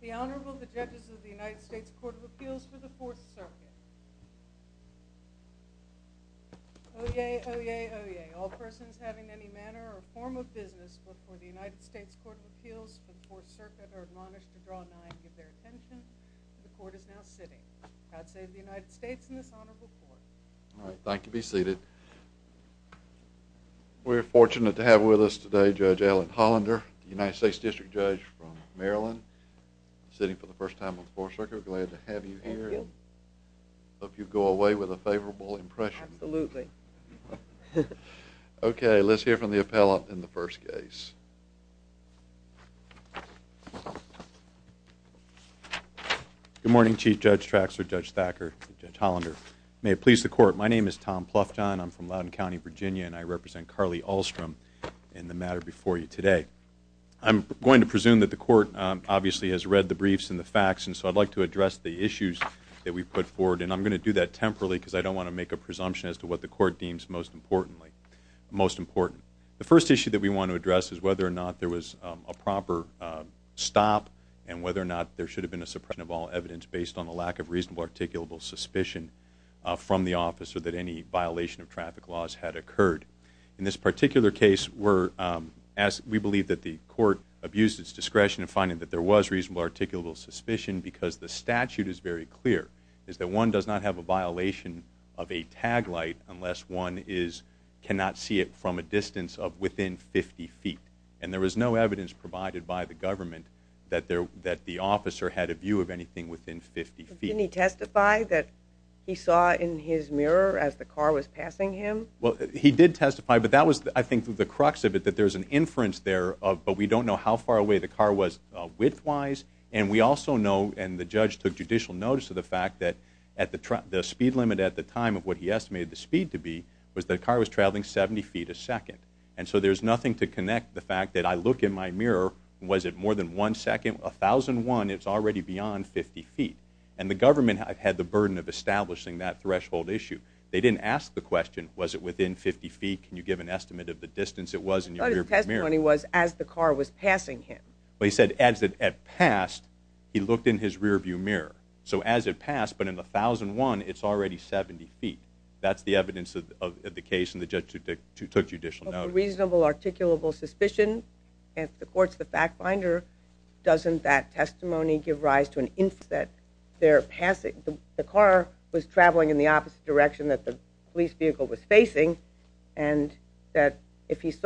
The Honorable, the Judges of the United States Court of Appeals for the Fourth Circuit. Oyez, oyez, oyez. All persons having any manner or form of business before the United States Court of Appeals for the Fourth Circuit are admonished to draw nine and give their attention. The Court is now sitting. God save the United States and this Honorable Court. All right. Thank you. Be seated. We're fortunate to have with us today Judge Ellen Hollander, United States District Judge from Maryland, sitting for the first time on the Fourth Circuit. Glad to have you here. Thank you. Hope you go away with a favorable impression. Absolutely. Okay. Let's hear from the appellant in the first case. Good morning, Chief Judge Traxler, Judge Thacker, and Judge Hollander. May it please the Court. My name is Tom Ploufton. I'm from Loudoun County, Virginia, and I represent Carly Ahlstrom in the matter before you today. I'm going to presume that the Court obviously has read the briefs and the facts, and so I'd like to address the issues that we've put forward, and I'm going to do that temporarily because I don't want to make a presumption as to what the Court deems most important. The first issue that we want to address is whether or not there was a proper stop and whether or not there should have been a suppression of all evidence based on the lack of reasonable articulable suspicion from the office or that any violation of traffic laws had occurred. In this particular case, we believe that the Court abused its discretion in finding that there was reasonable articulable suspicion because the statute is very clear, is that one does not have a violation of a tag light unless one cannot see it from a distance of within 50 feet, and there was no evidence provided by the government that the officer had a view of anything within 50 feet. Didn't he testify that he saw in his mirror as the car was passing him? Well, he did testify, but that was, I think, the crux of it, that there's an inference there of, but we don't know how far away the car was width-wise, and we also know, and the judge took judicial notice of the fact that the speed limit at the time of what he estimated the speed to be was that the car was traveling 70 feet a second, and so there's nothing to connect the fact that I look in my mirror, was it more than one second, 1,001, it's already beyond 50 feet, and the government had the burden of establishing that threshold issue. They didn't ask the question, was it within 50 feet, can you give an estimate of the distance it was in your mirror? Well, his testimony was as the car was passing him. Well, he said as it had passed, he looked in his rear-view mirror. So as it passed, but in the 1,001, it's already 70 feet. That's the evidence of the case, and the judge took judicial notice. Well, for reasonable articulable suspicion, if the court's the fact-finder, doesn't that testimony give rise to an inference that the car was traveling in the opposite direction that the police vehicle was facing, and that if his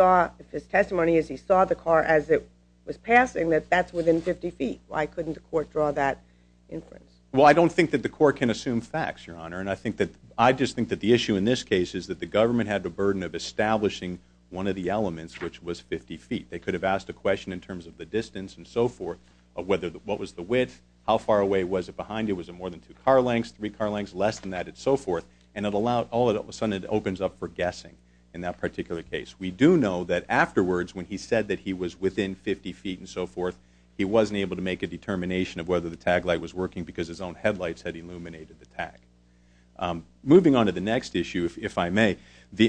testimony is he saw the car as it was passing, that that's within 50 feet. Why couldn't the court draw that inference? Well, I don't think that the court can assume facts, Your Honor, and I just think that the issue in this case is that the government had the burden of establishing one of the elements, which was 50 feet. They could have asked a question in terms of the distance and so forth of what was the width, how far away was it behind you, was it more than two car lengths, three car lengths, less than that, and so forth, and all of a sudden it opens up for guessing in that particular case. We do know that afterwards, when he said that he was within 50 feet and so forth, he wasn't able to make a determination of whether the tag light was working because his own headlights had illuminated the tag. Moving on to the next issue, if I may,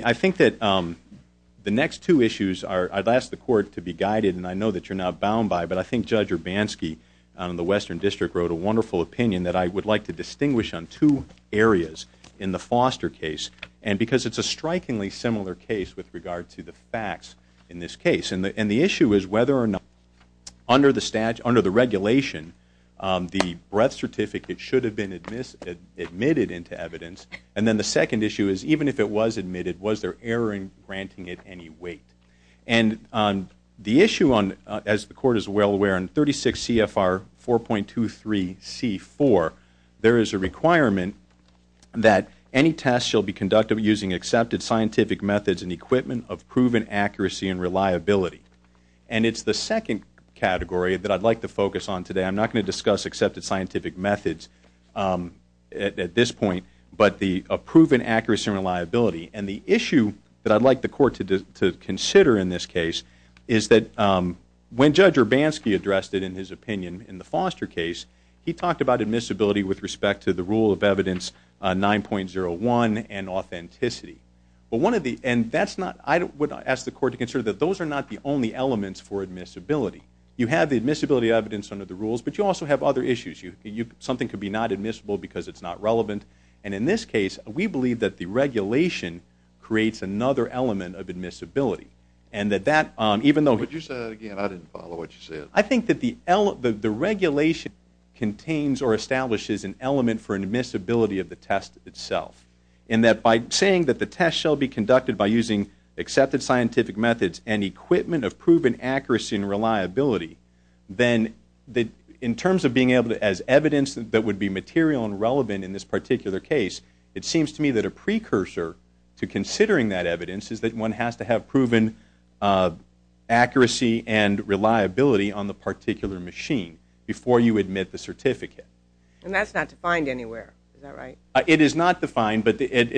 I think that the next two issues are, I'd ask the court to be guided, and I know that you're not bound by it, but I think Judge Urbanski in the Western District wrote a wonderful opinion that I would like to distinguish on two areas in the Foster case, and because it's a strikingly similar case with regard to the facts in this case, and the issue is whether or not under the regulation the breath certificate should have been admitted into evidence, and then the second issue is even if it was admitted, was there error in granting it any weight? The issue, as the court is well aware, in 36 CFR 4.23C4, there is a requirement that any test shall be conducted using accepted scientific methods and equipment of proven accuracy and reliability, and it's the second category that I'd like to focus on today. I'm not going to discuss accepted scientific methods at this point, but the proven accuracy and reliability, and the issue that I'd like the court to consider in this case is that when Judge Urbanski addressed it in his opinion in the Foster case, he talked about admissibility with respect to the rule of evidence 9.01 and authenticity, and I would ask the court to consider that those are not the only elements for admissibility. You have the admissibility evidence under the rules, but you also have other issues. Something could be not admissible because it's not relevant, and in this case we believe that the regulation creates another element of admissibility. Would you say that again? I didn't follow what you said. I think that the regulation contains or establishes an element for admissibility of the test itself, and that by saying that the test shall be conducted by using accepted scientific methods and equipment of proven accuracy and reliability, then in terms of being able to as evidence that would be material and relevant in this particular case, it seems to me that a precursor to considering that evidence is that one has to have proven accuracy and reliability on the particular machine before you admit the certificate. And that's not defined anywhere, is that right? It is not defined, but when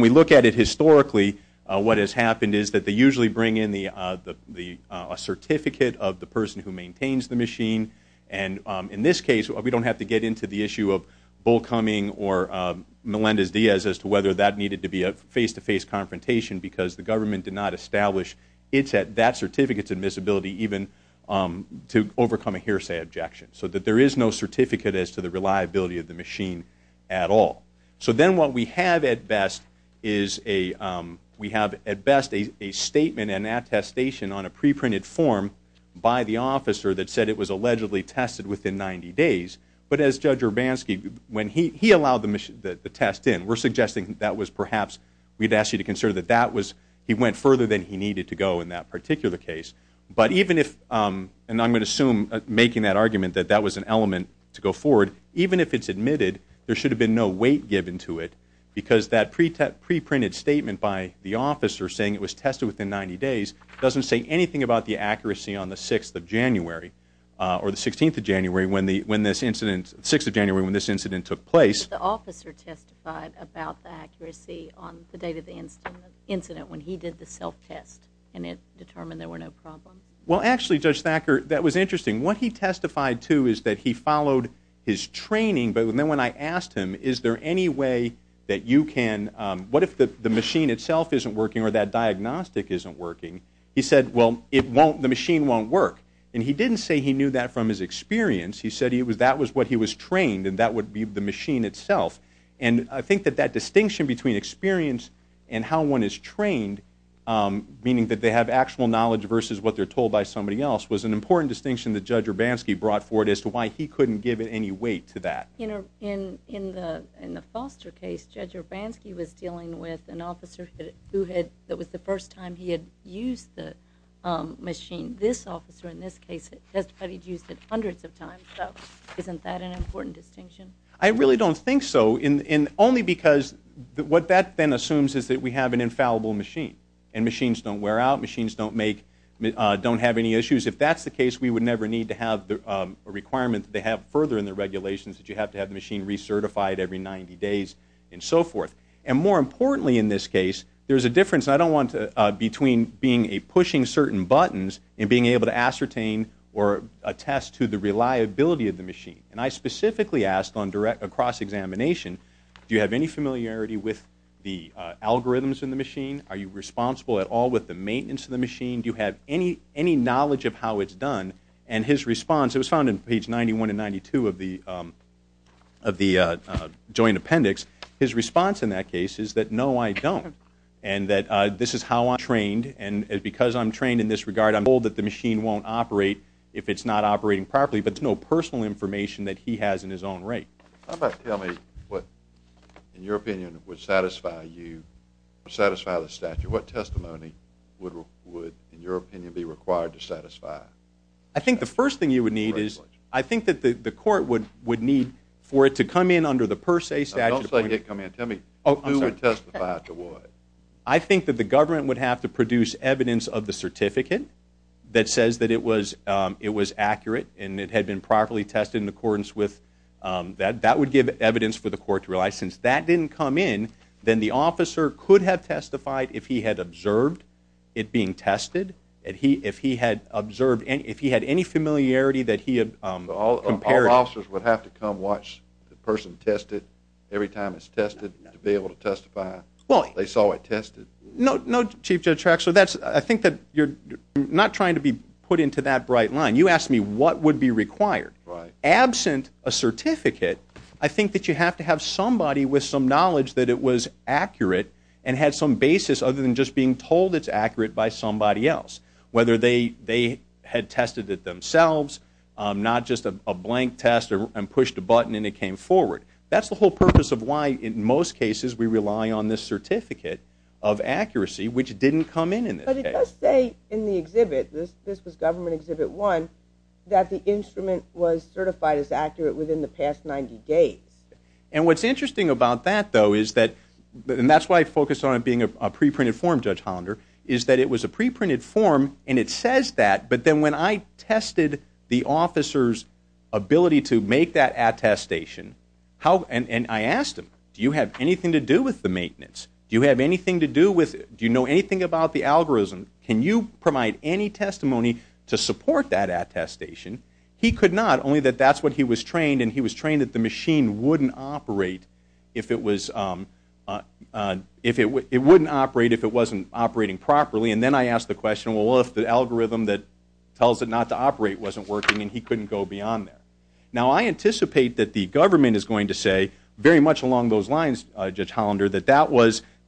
we look at it historically, what has happened is that they usually bring in a certificate of the person who maintains the machine, and in this case we don't have to get into the issue of Bull Cumming or Melendez-Diaz as to whether that needed to be a face-to-face confrontation because the government did not establish that certificate's admissibility even to overcome a hearsay objection, so that there is no certificate as to the reliability of the machine at all. So then what we have at best is a statement and attestation on a preprinted form by the officer that said it was allegedly tested within 90 days, but as Judge Urbanski, when he allowed the test in, we're suggesting that was perhaps, we'd ask you to consider that he went further than he needed to go in that particular case, but even if, and I'm going to assume making that argument that that was an element to go forward, even if it's admitted, there should have been no weight given to it because that preprinted statement by the officer saying it was tested within 90 days doesn't say anything about the accuracy on the 6th of January or the 16th of January when this incident, 6th of January when this incident took place. But the officer testified about the accuracy on the date of the incident when he did the self-test and it determined there were no problems. Well, actually, Judge Thacker, that was interesting. What he testified to is that he followed his training, but then when I asked him, is there any way that you can, what if the machine itself isn't working or that diagnostic isn't working, he said, well, it won't, the machine won't work. And he didn't say he knew that from his experience. He said that was what he was trained and that would be the machine itself. And I think that that distinction between experience and how one is trained, meaning that they have actual knowledge versus what they're told by somebody else, was an important distinction that Judge Urbanski brought forward as to why he couldn't give it any weight to that. In the Foster case, Judge Urbanski was dealing with an officer that was the first time he had used the machine. This officer, in this case, testified he'd used it hundreds of times. Isn't that an important distinction? I really don't think so, only because what that then assumes is that we have an infallible machine and machines don't wear out, machines don't make, don't have any issues. If that's the case, we would never need to have a requirement that they have further in the regulations that you have to have the machine recertified every 90 days and so forth. And more importantly in this case, there's a difference, I don't want to, between being a pushing certain buttons and being able to ascertain or attest to the reliability of the machine. And I specifically asked on direct, across examination, do you have any familiarity with the algorithms in the machine? Are you responsible at all with the maintenance of the machine? Do you have any knowledge of how it's done? And his response, it was found in page 91 and 92 of the joint appendix, his response in that case is that, no, I don't, and that this is how I'm trained, and because I'm trained in this regard, I'm told that the machine won't operate if it's not operating properly, but there's no personal information that he has in his own right. How about tell me what, in your opinion, would satisfy you, satisfy the statute? What testimony would, in your opinion, be required to satisfy? I think the first thing you would need is, I think that the court would need for it to come in under the per se statute. Don't say it come in, tell me, who would testify to what? I think that the government would have to produce evidence of the certificate that says that it was accurate and it had been properly tested in accordance with that. That would give evidence for the court to realize since that didn't come in, then the officer could have testified if he had observed it being tested, if he had observed, if he had any familiarity that he had compared. All officers would have to come watch the person test it every time it's tested to be able to testify they saw it tested. No, Chief Judge Traxler, I think that you're not trying to be put into that bright line. You asked me what would be required. Absent a certificate, I think that you have to have somebody with some knowledge that it was accurate and had some basis other than just being told it's accurate by somebody else, whether they had tested it themselves, not just a blank test and pushed a button and it came forward. That's the whole purpose of why, in most cases, we rely on this certificate of accuracy, which didn't come in in this case. It does say in the exhibit, this was Government Exhibit 1, that the instrument was certified as accurate within the past 90 days. And what's interesting about that, though, is that, and that's why I focused on it being a preprinted form, Judge Hollander, is that it was a preprinted form and it says that, but then when I tested the officer's ability to make that attestation, and I asked him, do you have anything to do with the maintenance? Do you have anything to do with it? Do you know anything about the algorithm? Can you provide any testimony to support that attestation? He could not, only that that's what he was trained, and he was trained that the machine wouldn't operate if it wasn't operating properly. And then I asked the question, well, what if the algorithm that tells it not to operate wasn't working, and he couldn't go beyond that? Now, I anticipate that the government is going to say, very much along those lines, Judge Hollander, that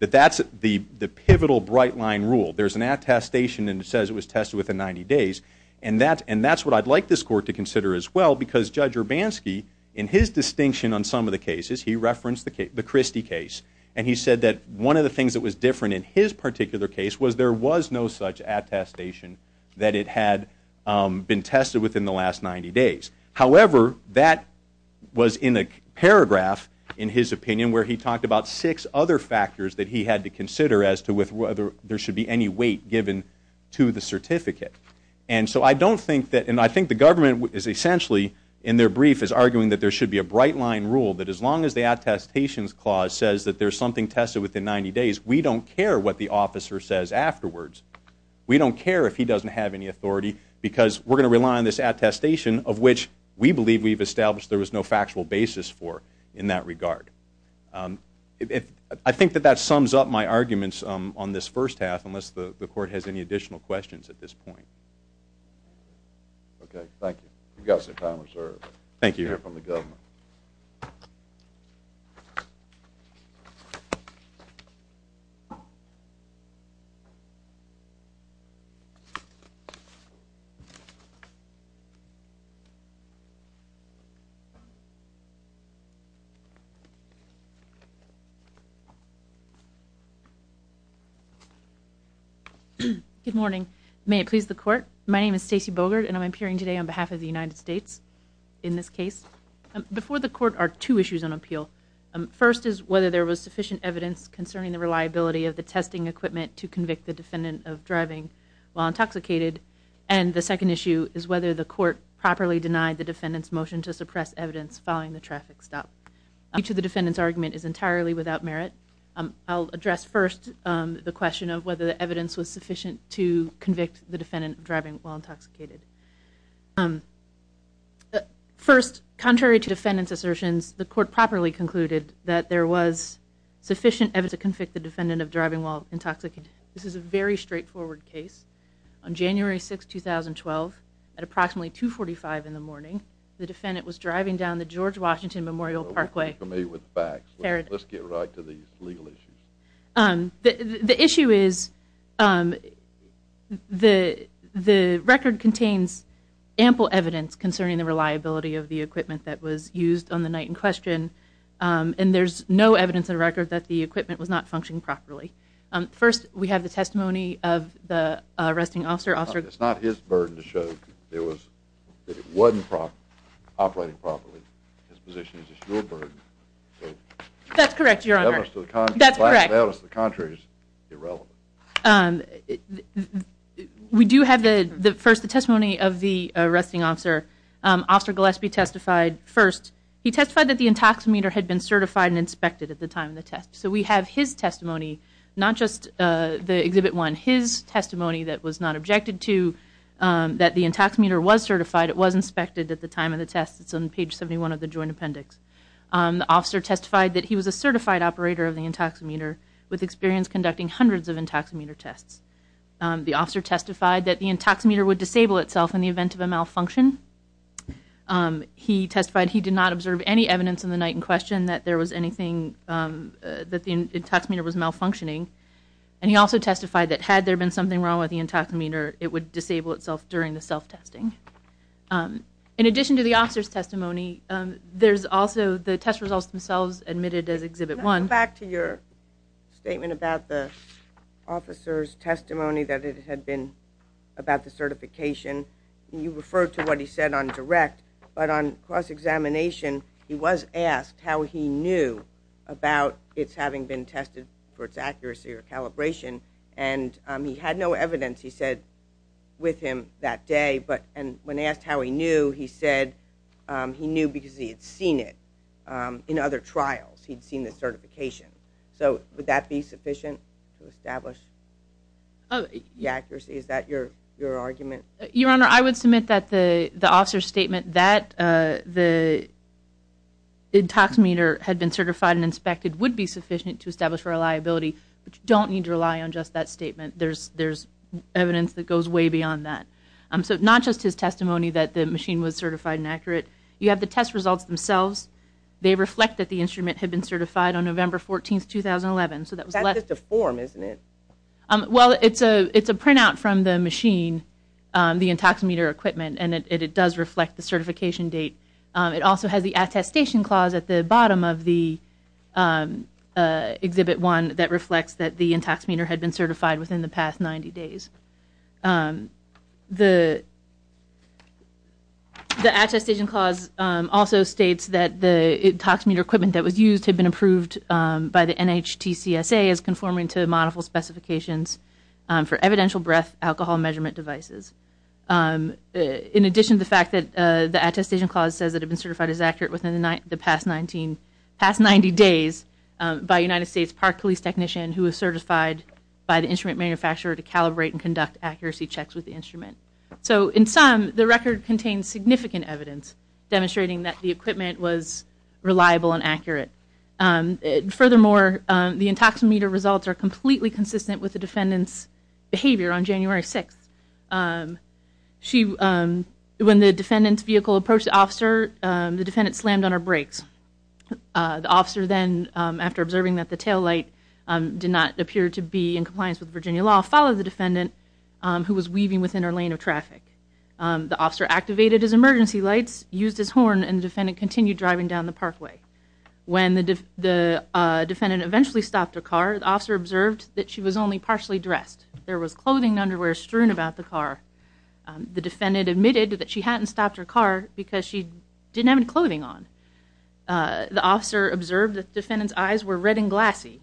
that's the pivotal bright line rule. There's an attestation and it says it was tested within 90 days, and that's what I'd like this court to consider as well, because Judge Urbanski, in his distinction on some of the cases, he referenced the Christie case, and he said that one of the things that was different in his particular case was there was no such attestation that it had been tested within the last 90 days. However, that was in a paragraph, in his opinion, where he talked about six other factors that he had to consider as to whether there should be any weight given to the certificate. And so I don't think that, and I think the government is essentially, in their brief, is arguing that there should be a bright line rule, that as long as the attestations clause says that there's something tested within 90 days, we don't care what the officer says afterwards. We don't care if he doesn't have any authority, because we're going to rely on this attestation, of which we believe we've established there was no factual basis for in that regard. I think that that sums up my arguments on this first half, unless the court has any additional questions at this point. Okay, thank you. You've got some time reserved. Thank you. We hear from the government. Good morning. May it please the court, my name is Stacey Bogert, and I'm appearing today on behalf of the United States in this case. Before the court are two issues on appeal. First is whether there was sufficient evidence concerning the reliability of the testing equipment to convict the defendant of driving while intoxicated, and the second issue is whether the court properly denied the defendant's motion to suppress evidence following the traffic stop. Each of the defendant's argument is entirely without merit. I'll address first the question of whether the evidence was sufficient to convict the defendant of driving while intoxicated. First, contrary to defendant's assertions, the court properly concluded that there was sufficient evidence to convict the defendant of driving while intoxicated. This is a very straightforward case. On January 6, 2012, at approximately 2.45 in the morning, the defendant was driving down the George Washington Memorial Parkway. Let's get right to these legal issues. The issue is the record contains ample evidence concerning the reliability of the equipment that was used on the night in question, and there's no evidence in the record that the equipment was not functioning properly. First, we have the testimony of the arresting officer. It's not his burden to show that it wasn't operating properly. His position is it's your burden. That's correct, Your Honor. We do have first the testimony of the arresting officer. Officer Gillespie testified first. He testified that the intoxicator had been certified and inspected at the time of the test. So we have his testimony, not just the Exhibit 1, his testimony that was not objected to, that the intoxicator was certified, it was inspected at the time of the test. It's on page 71 of the joint appendix. The officer testified that he was a certified operator of the intoxicator with experience conducting hundreds of intoxicator tests. The officer testified that the intoxicator would disable itself in the event of a malfunction. He testified he did not observe any evidence on the night in question that there was anything that the intoxicator was malfunctioning. And he also testified that had there been something wrong with the intoxicator, it would disable itself during the self-testing. In addition to the officer's testimony, there's also the test results themselves admitted as Exhibit 1. Let's go back to your statement about the officer's testimony that it had been about the certification. You referred to what he said on direct, but on cross-examination, he was asked how he knew about its having been tested for its accuracy or calibration, and he had no evidence, he said, with him that day. And when asked how he knew, he said he knew because he had seen it in other trials. He had seen the certification. So would that be sufficient to establish the accuracy? Is that your argument? Your Honor, I would submit that the officer's statement that the intoxicator had been certified and inspected would be sufficient to establish reliability. But you don't need to rely on just that statement. There's evidence that goes way beyond that. So not just his testimony that the machine was certified and accurate. You have the test results themselves. They reflect that the instrument had been certified on November 14, 2011. That's just a form, isn't it? Well, it's a printout from the machine, the intoxicator equipment, and it does reflect the certification date. It also has the attestation clause at the bottom of the Exhibit 1 that reflects that the intoxicator had been certified within the past 90 days. The attestation clause also states that the intoxicator equipment that was used had been approved by the NHTCSA as conforming to model specifications for evidential breath alcohol measurement devices. In addition to the fact that the attestation clause says that it had been certified as accurate within the past 90 days by a United States Park Police technician who was certified by the instrument manufacturer to calibrate and conduct accuracy checks with the instrument. So in sum, the record contains significant evidence demonstrating that the equipment was reliable and accurate. Furthermore, the intoxicator results are completely consistent with the defendant's behavior on January 6. When the defendant's vehicle approached the officer, the defendant slammed on her brakes. The officer then, after observing that the taillight did not appear to be in compliance with Virginia law, followed the defendant who was weaving within her lane of traffic. The officer activated his emergency lights, used his horn, and the defendant continued driving down the parkway. When the defendant eventually stopped her car, the officer observed that she was only partially dressed. There was clothing and underwear strewn about the car. The defendant admitted that she hadn't stopped her car because she didn't have any clothing on. The officer observed that the defendant's eyes were red and glassy.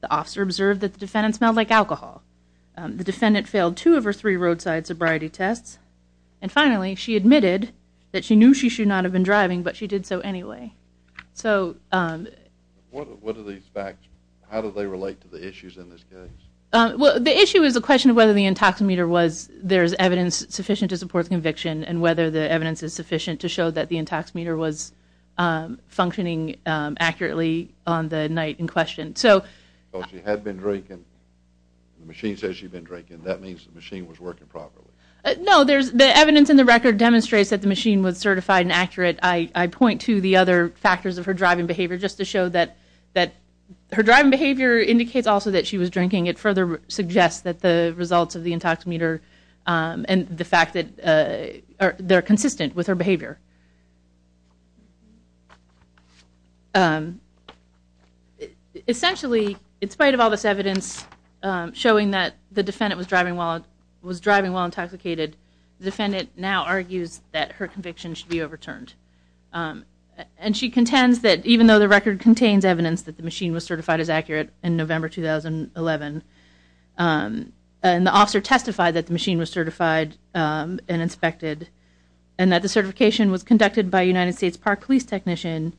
The officer observed that the defendant smelled like alcohol. The defendant failed two of her three roadside sobriety tests. And finally, she admitted that she knew she should not have been driving, but she did so anyway. What are these facts? How do they relate to the issues in this case? The issue is a question of whether the intoxicator was, there's evidence sufficient to support the conviction, and whether the evidence is sufficient to show that the intoxicator was functioning accurately on the night in question. She had been drinking. The machine says she'd been drinking. That means the machine was working properly. No, the evidence in the record demonstrates that the machine was certified and accurate. I point to the other factors of her driving behavior just to show that her driving behavior indicates also that she was drinking. It further suggests that the results of the intoxicator and the fact that they're consistent with her behavior. Essentially, in spite of all this evidence showing that the defendant was driving while intoxicated, the defendant now argues that her conviction should be overturned. And she contends that even though the record contains evidence that the machine was certified as accurate in November 2011, and the officer testified that the machine was certified and inspected, and that the certification was conducted by a United States Park Police technician,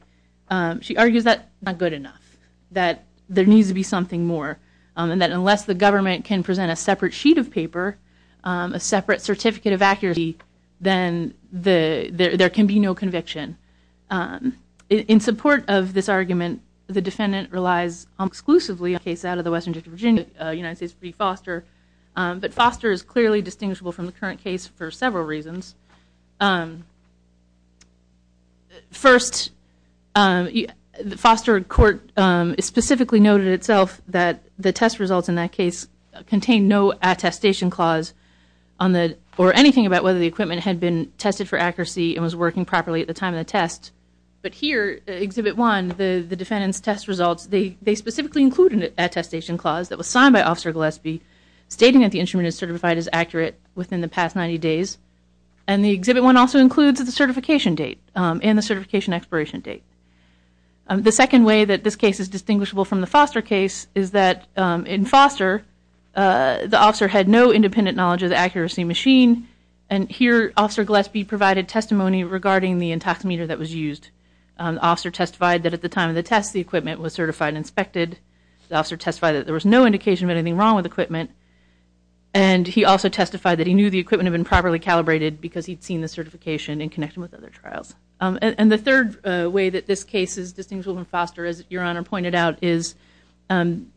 she argues that's not good enough, that there needs to be something more, and that unless the government can present a separate sheet of paper, a separate certificate of accuracy, then there can be no conviction. In support of this argument, the defendant relies exclusively on cases out of the Western District of Virginia, United States v. Foster. But Foster is clearly distinguishable from the current case for several reasons. First, the Foster court specifically noted itself that the test results in that case contained no attestation clause or anything about whether the equipment had been tested for accuracy and was working properly at the time of the test. But here, Exhibit 1, the defendant's test results, they specifically include an attestation clause that was signed by Officer Gillespie stating that the instrument is certified as accurate within the past 90 days. And the Exhibit 1 also includes the certification date and the certification expiration date. The second way that this case is distinguishable from the Foster case is that in Foster, the officer had no independent knowledge of the accuracy machine, and here Officer Gillespie provided testimony regarding the intoximeter that was used. The officer testified that at the time of the test, the equipment was certified and inspected. The officer testified that there was no indication of anything wrong with equipment. And he also testified that he knew the equipment had been properly calibrated because he'd seen the certification in connection with other trials. And the third way that this case is distinguishable from Foster, as Your Honor pointed out, is in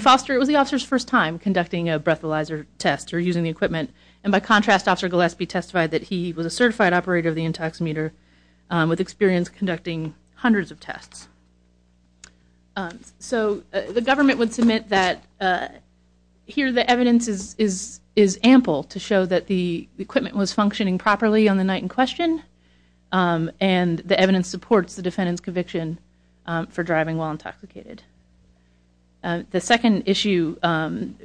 Foster, it was the officer's first time conducting a breathalyzer test or using the equipment. And by contrast, Officer Gillespie testified that he was a certified operator of the intoximeter with experience conducting hundreds of tests. So the government would submit that here the evidence is ample to show that the equipment was functioning properly on the night in question and the evidence supports the defendant's conviction for driving while intoxicated. The second issue,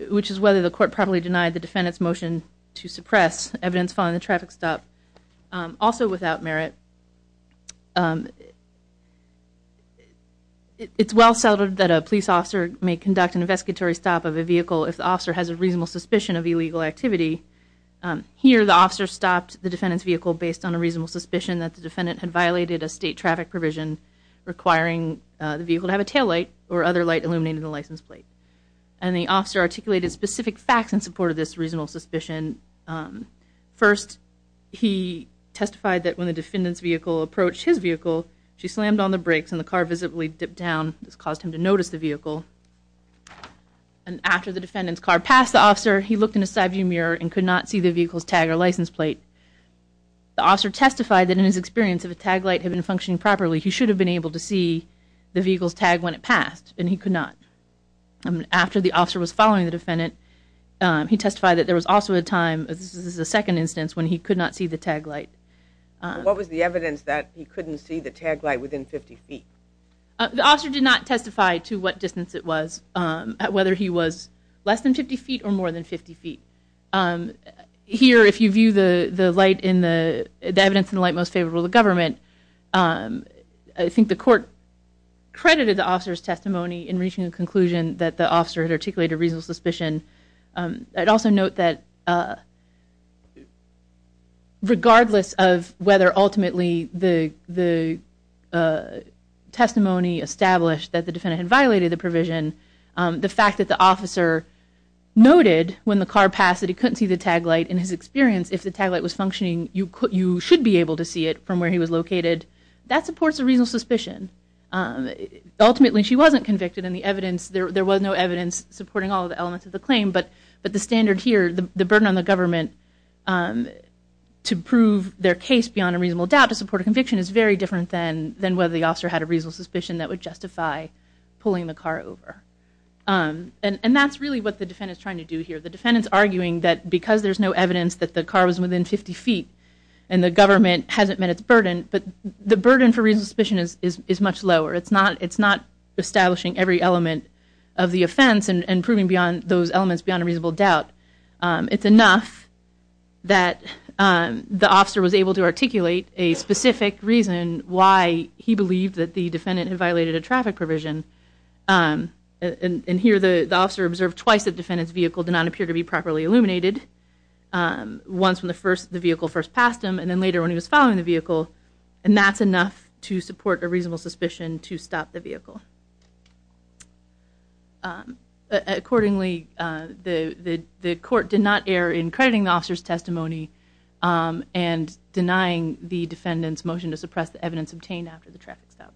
which is whether the court properly denied the defendant's motion to suppress evidence following the traffic stop, also without merit, it's well-settled that a police officer may conduct an investigatory stop of a vehicle if the officer has a reasonable suspicion of illegal activity. Here the officer stopped the defendant's vehicle based on a reasonable suspicion that the defendant had violated a state traffic provision requiring the vehicle to have a taillight or other light illuminating the license plate. And the officer articulated specific facts in support of this reasonable suspicion. First, he testified that when the defendant's vehicle approached his vehicle, she slammed on the brakes and the car visibly dipped down. This caused him to notice the vehicle. And after the defendant's car passed the officer, he looked in a side-view mirror and could not see the vehicle's tag or license plate. The officer testified that in his experience, if a taillight had been functioning properly, he should have been able to see the vehicle's tag when it passed, and he could not. After the officer was following the defendant, he testified that there was also a time, this is the second instance, when he could not see the taillight. What was the evidence that he couldn't see the taillight within 50 feet? The officer did not testify to what distance it was, whether he was less than 50 feet or more than 50 feet. Here, if you view the evidence in the light most favorable to the government, I think the court credited the officer's testimony in reaching a conclusion that the officer had articulated a reasonable suspicion. I'd also note that regardless of whether ultimately the testimony established that the defendant had violated the provision, the fact that the officer noted when the car passed that he couldn't see the taillight, in his experience, if the taillight was functioning, you should be able to see it from where he was located. That supports a reasonable suspicion. Ultimately, she wasn't convicted, and there was no evidence supporting all the elements of the claim, but the standard here, the burden on the government to prove their case beyond a reasonable doubt to support a conviction is very different than whether the officer had a reasonable suspicion that would justify pulling the car over. And that's really what the defendant's trying to do here. The defendant's arguing that because there's no evidence that the car was within 50 feet and the government hasn't met its burden, but the burden for reasonable suspicion is much lower. It's not establishing every element of the offense and proving those elements beyond a reasonable doubt. It's enough that the officer was able to articulate a specific reason why he believed that the defendant had violated a traffic provision, and here the officer observed twice that the defendant's vehicle did not appear to be properly illuminated, once when the vehicle first passed him and then later when he was following the vehicle, and that's enough to support a reasonable suspicion to stop the vehicle. Accordingly, the court did not err in crediting the officer's testimony and denying the defendant's motion to suppress the evidence obtained after the traffic stop.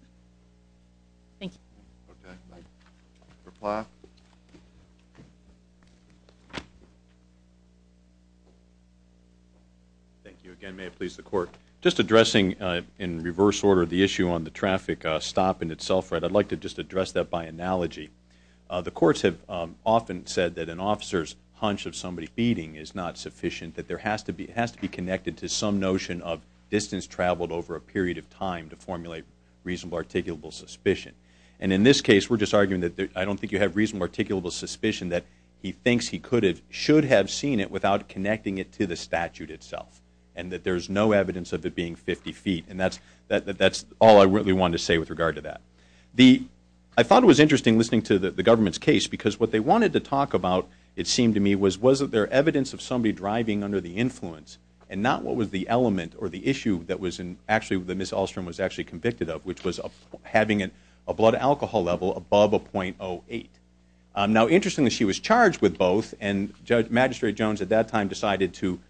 Thank you. Okay. Reply. Thank you again. May it please the Court. Just addressing in reverse order the issue on the traffic stop in itself, I'd like to just address that by analogy. The courts have often said that an officer's hunch of somebody beating is not sufficient, that it has to be connected to some notion of distance traveled over a period of time to formulate reasonable articulable suspicion, and in this case we're just arguing that I don't think you have reasonable articulable suspicion that he thinks he should have seen it without connecting it to the statute itself, and that there's no evidence of it being 50 feet, and that's all I really wanted to say with regard to that. I thought it was interesting listening to the government's case because what they wanted to talk about, it seemed to me, was was there evidence of somebody driving under the influence and not what was the element or the issue that Ms. Ahlstrom was actually convicted of, which was having a blood alcohol level above a .08. Now, interestingly, she was charged with both, and Magistrate Jones at that time decided to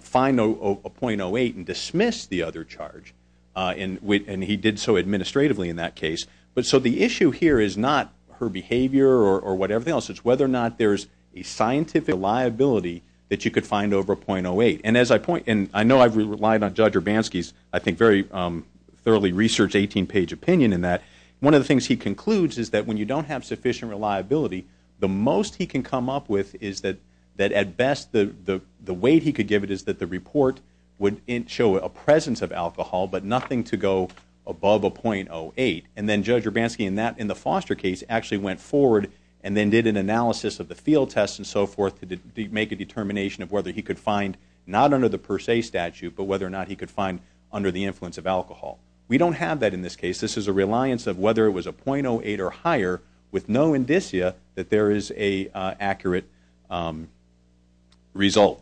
find a .08 and dismiss the other charge, and he did so administratively in that case. So the issue here is not her behavior or whatever else. It's whether or not there's a scientific liability that you could find over a .08, and I know I've relied on Judge Urbanski's, I think, very thoroughly researched 18-page opinion in that. One of the things he concludes is that when you don't have sufficient reliability, the most he can come up with is that at best the weight he could give it is that the report would show a presence of alcohol but nothing to go above a .08, and then Judge Urbanski in the Foster case actually went forward and then did an analysis of the field test and so forth to make a determination of whether he could find not under the per se statute but whether or not he could find under the influence of alcohol. We don't have that in this case. This is a reliance of whether it was a .08 or higher with no indicia that there is an accurate result.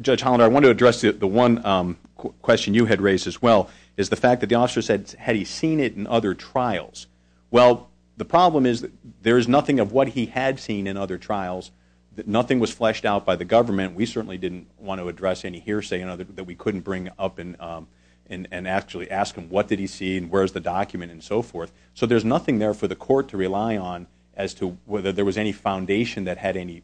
Judge Hollander, I want to address the one question you had raised as well, is the fact that the officer said, had he seen it in other trials? Well, the problem is that there is nothing of what he had seen in other trials. Nothing was fleshed out by the government. We certainly didn't want to address any hearsay that we couldn't bring up and actually ask him what did he see and where is the document and so forth. So there's nothing there for the court to rely on as to whether there was any foundation that had any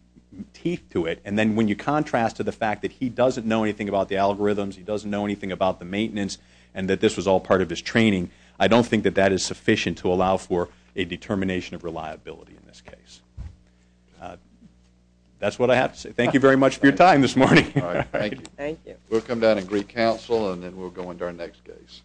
teeth to it. And then when you contrast to the fact that he doesn't know anything about the algorithms, he doesn't know anything about the maintenance, and that this was all part of his training, I don't think that that is sufficient to allow for a determination of reliability in this case. That's what I have to say. Thank you very much for your time this morning. Thank you. We'll come down and agree counsel and then we'll go into our next case.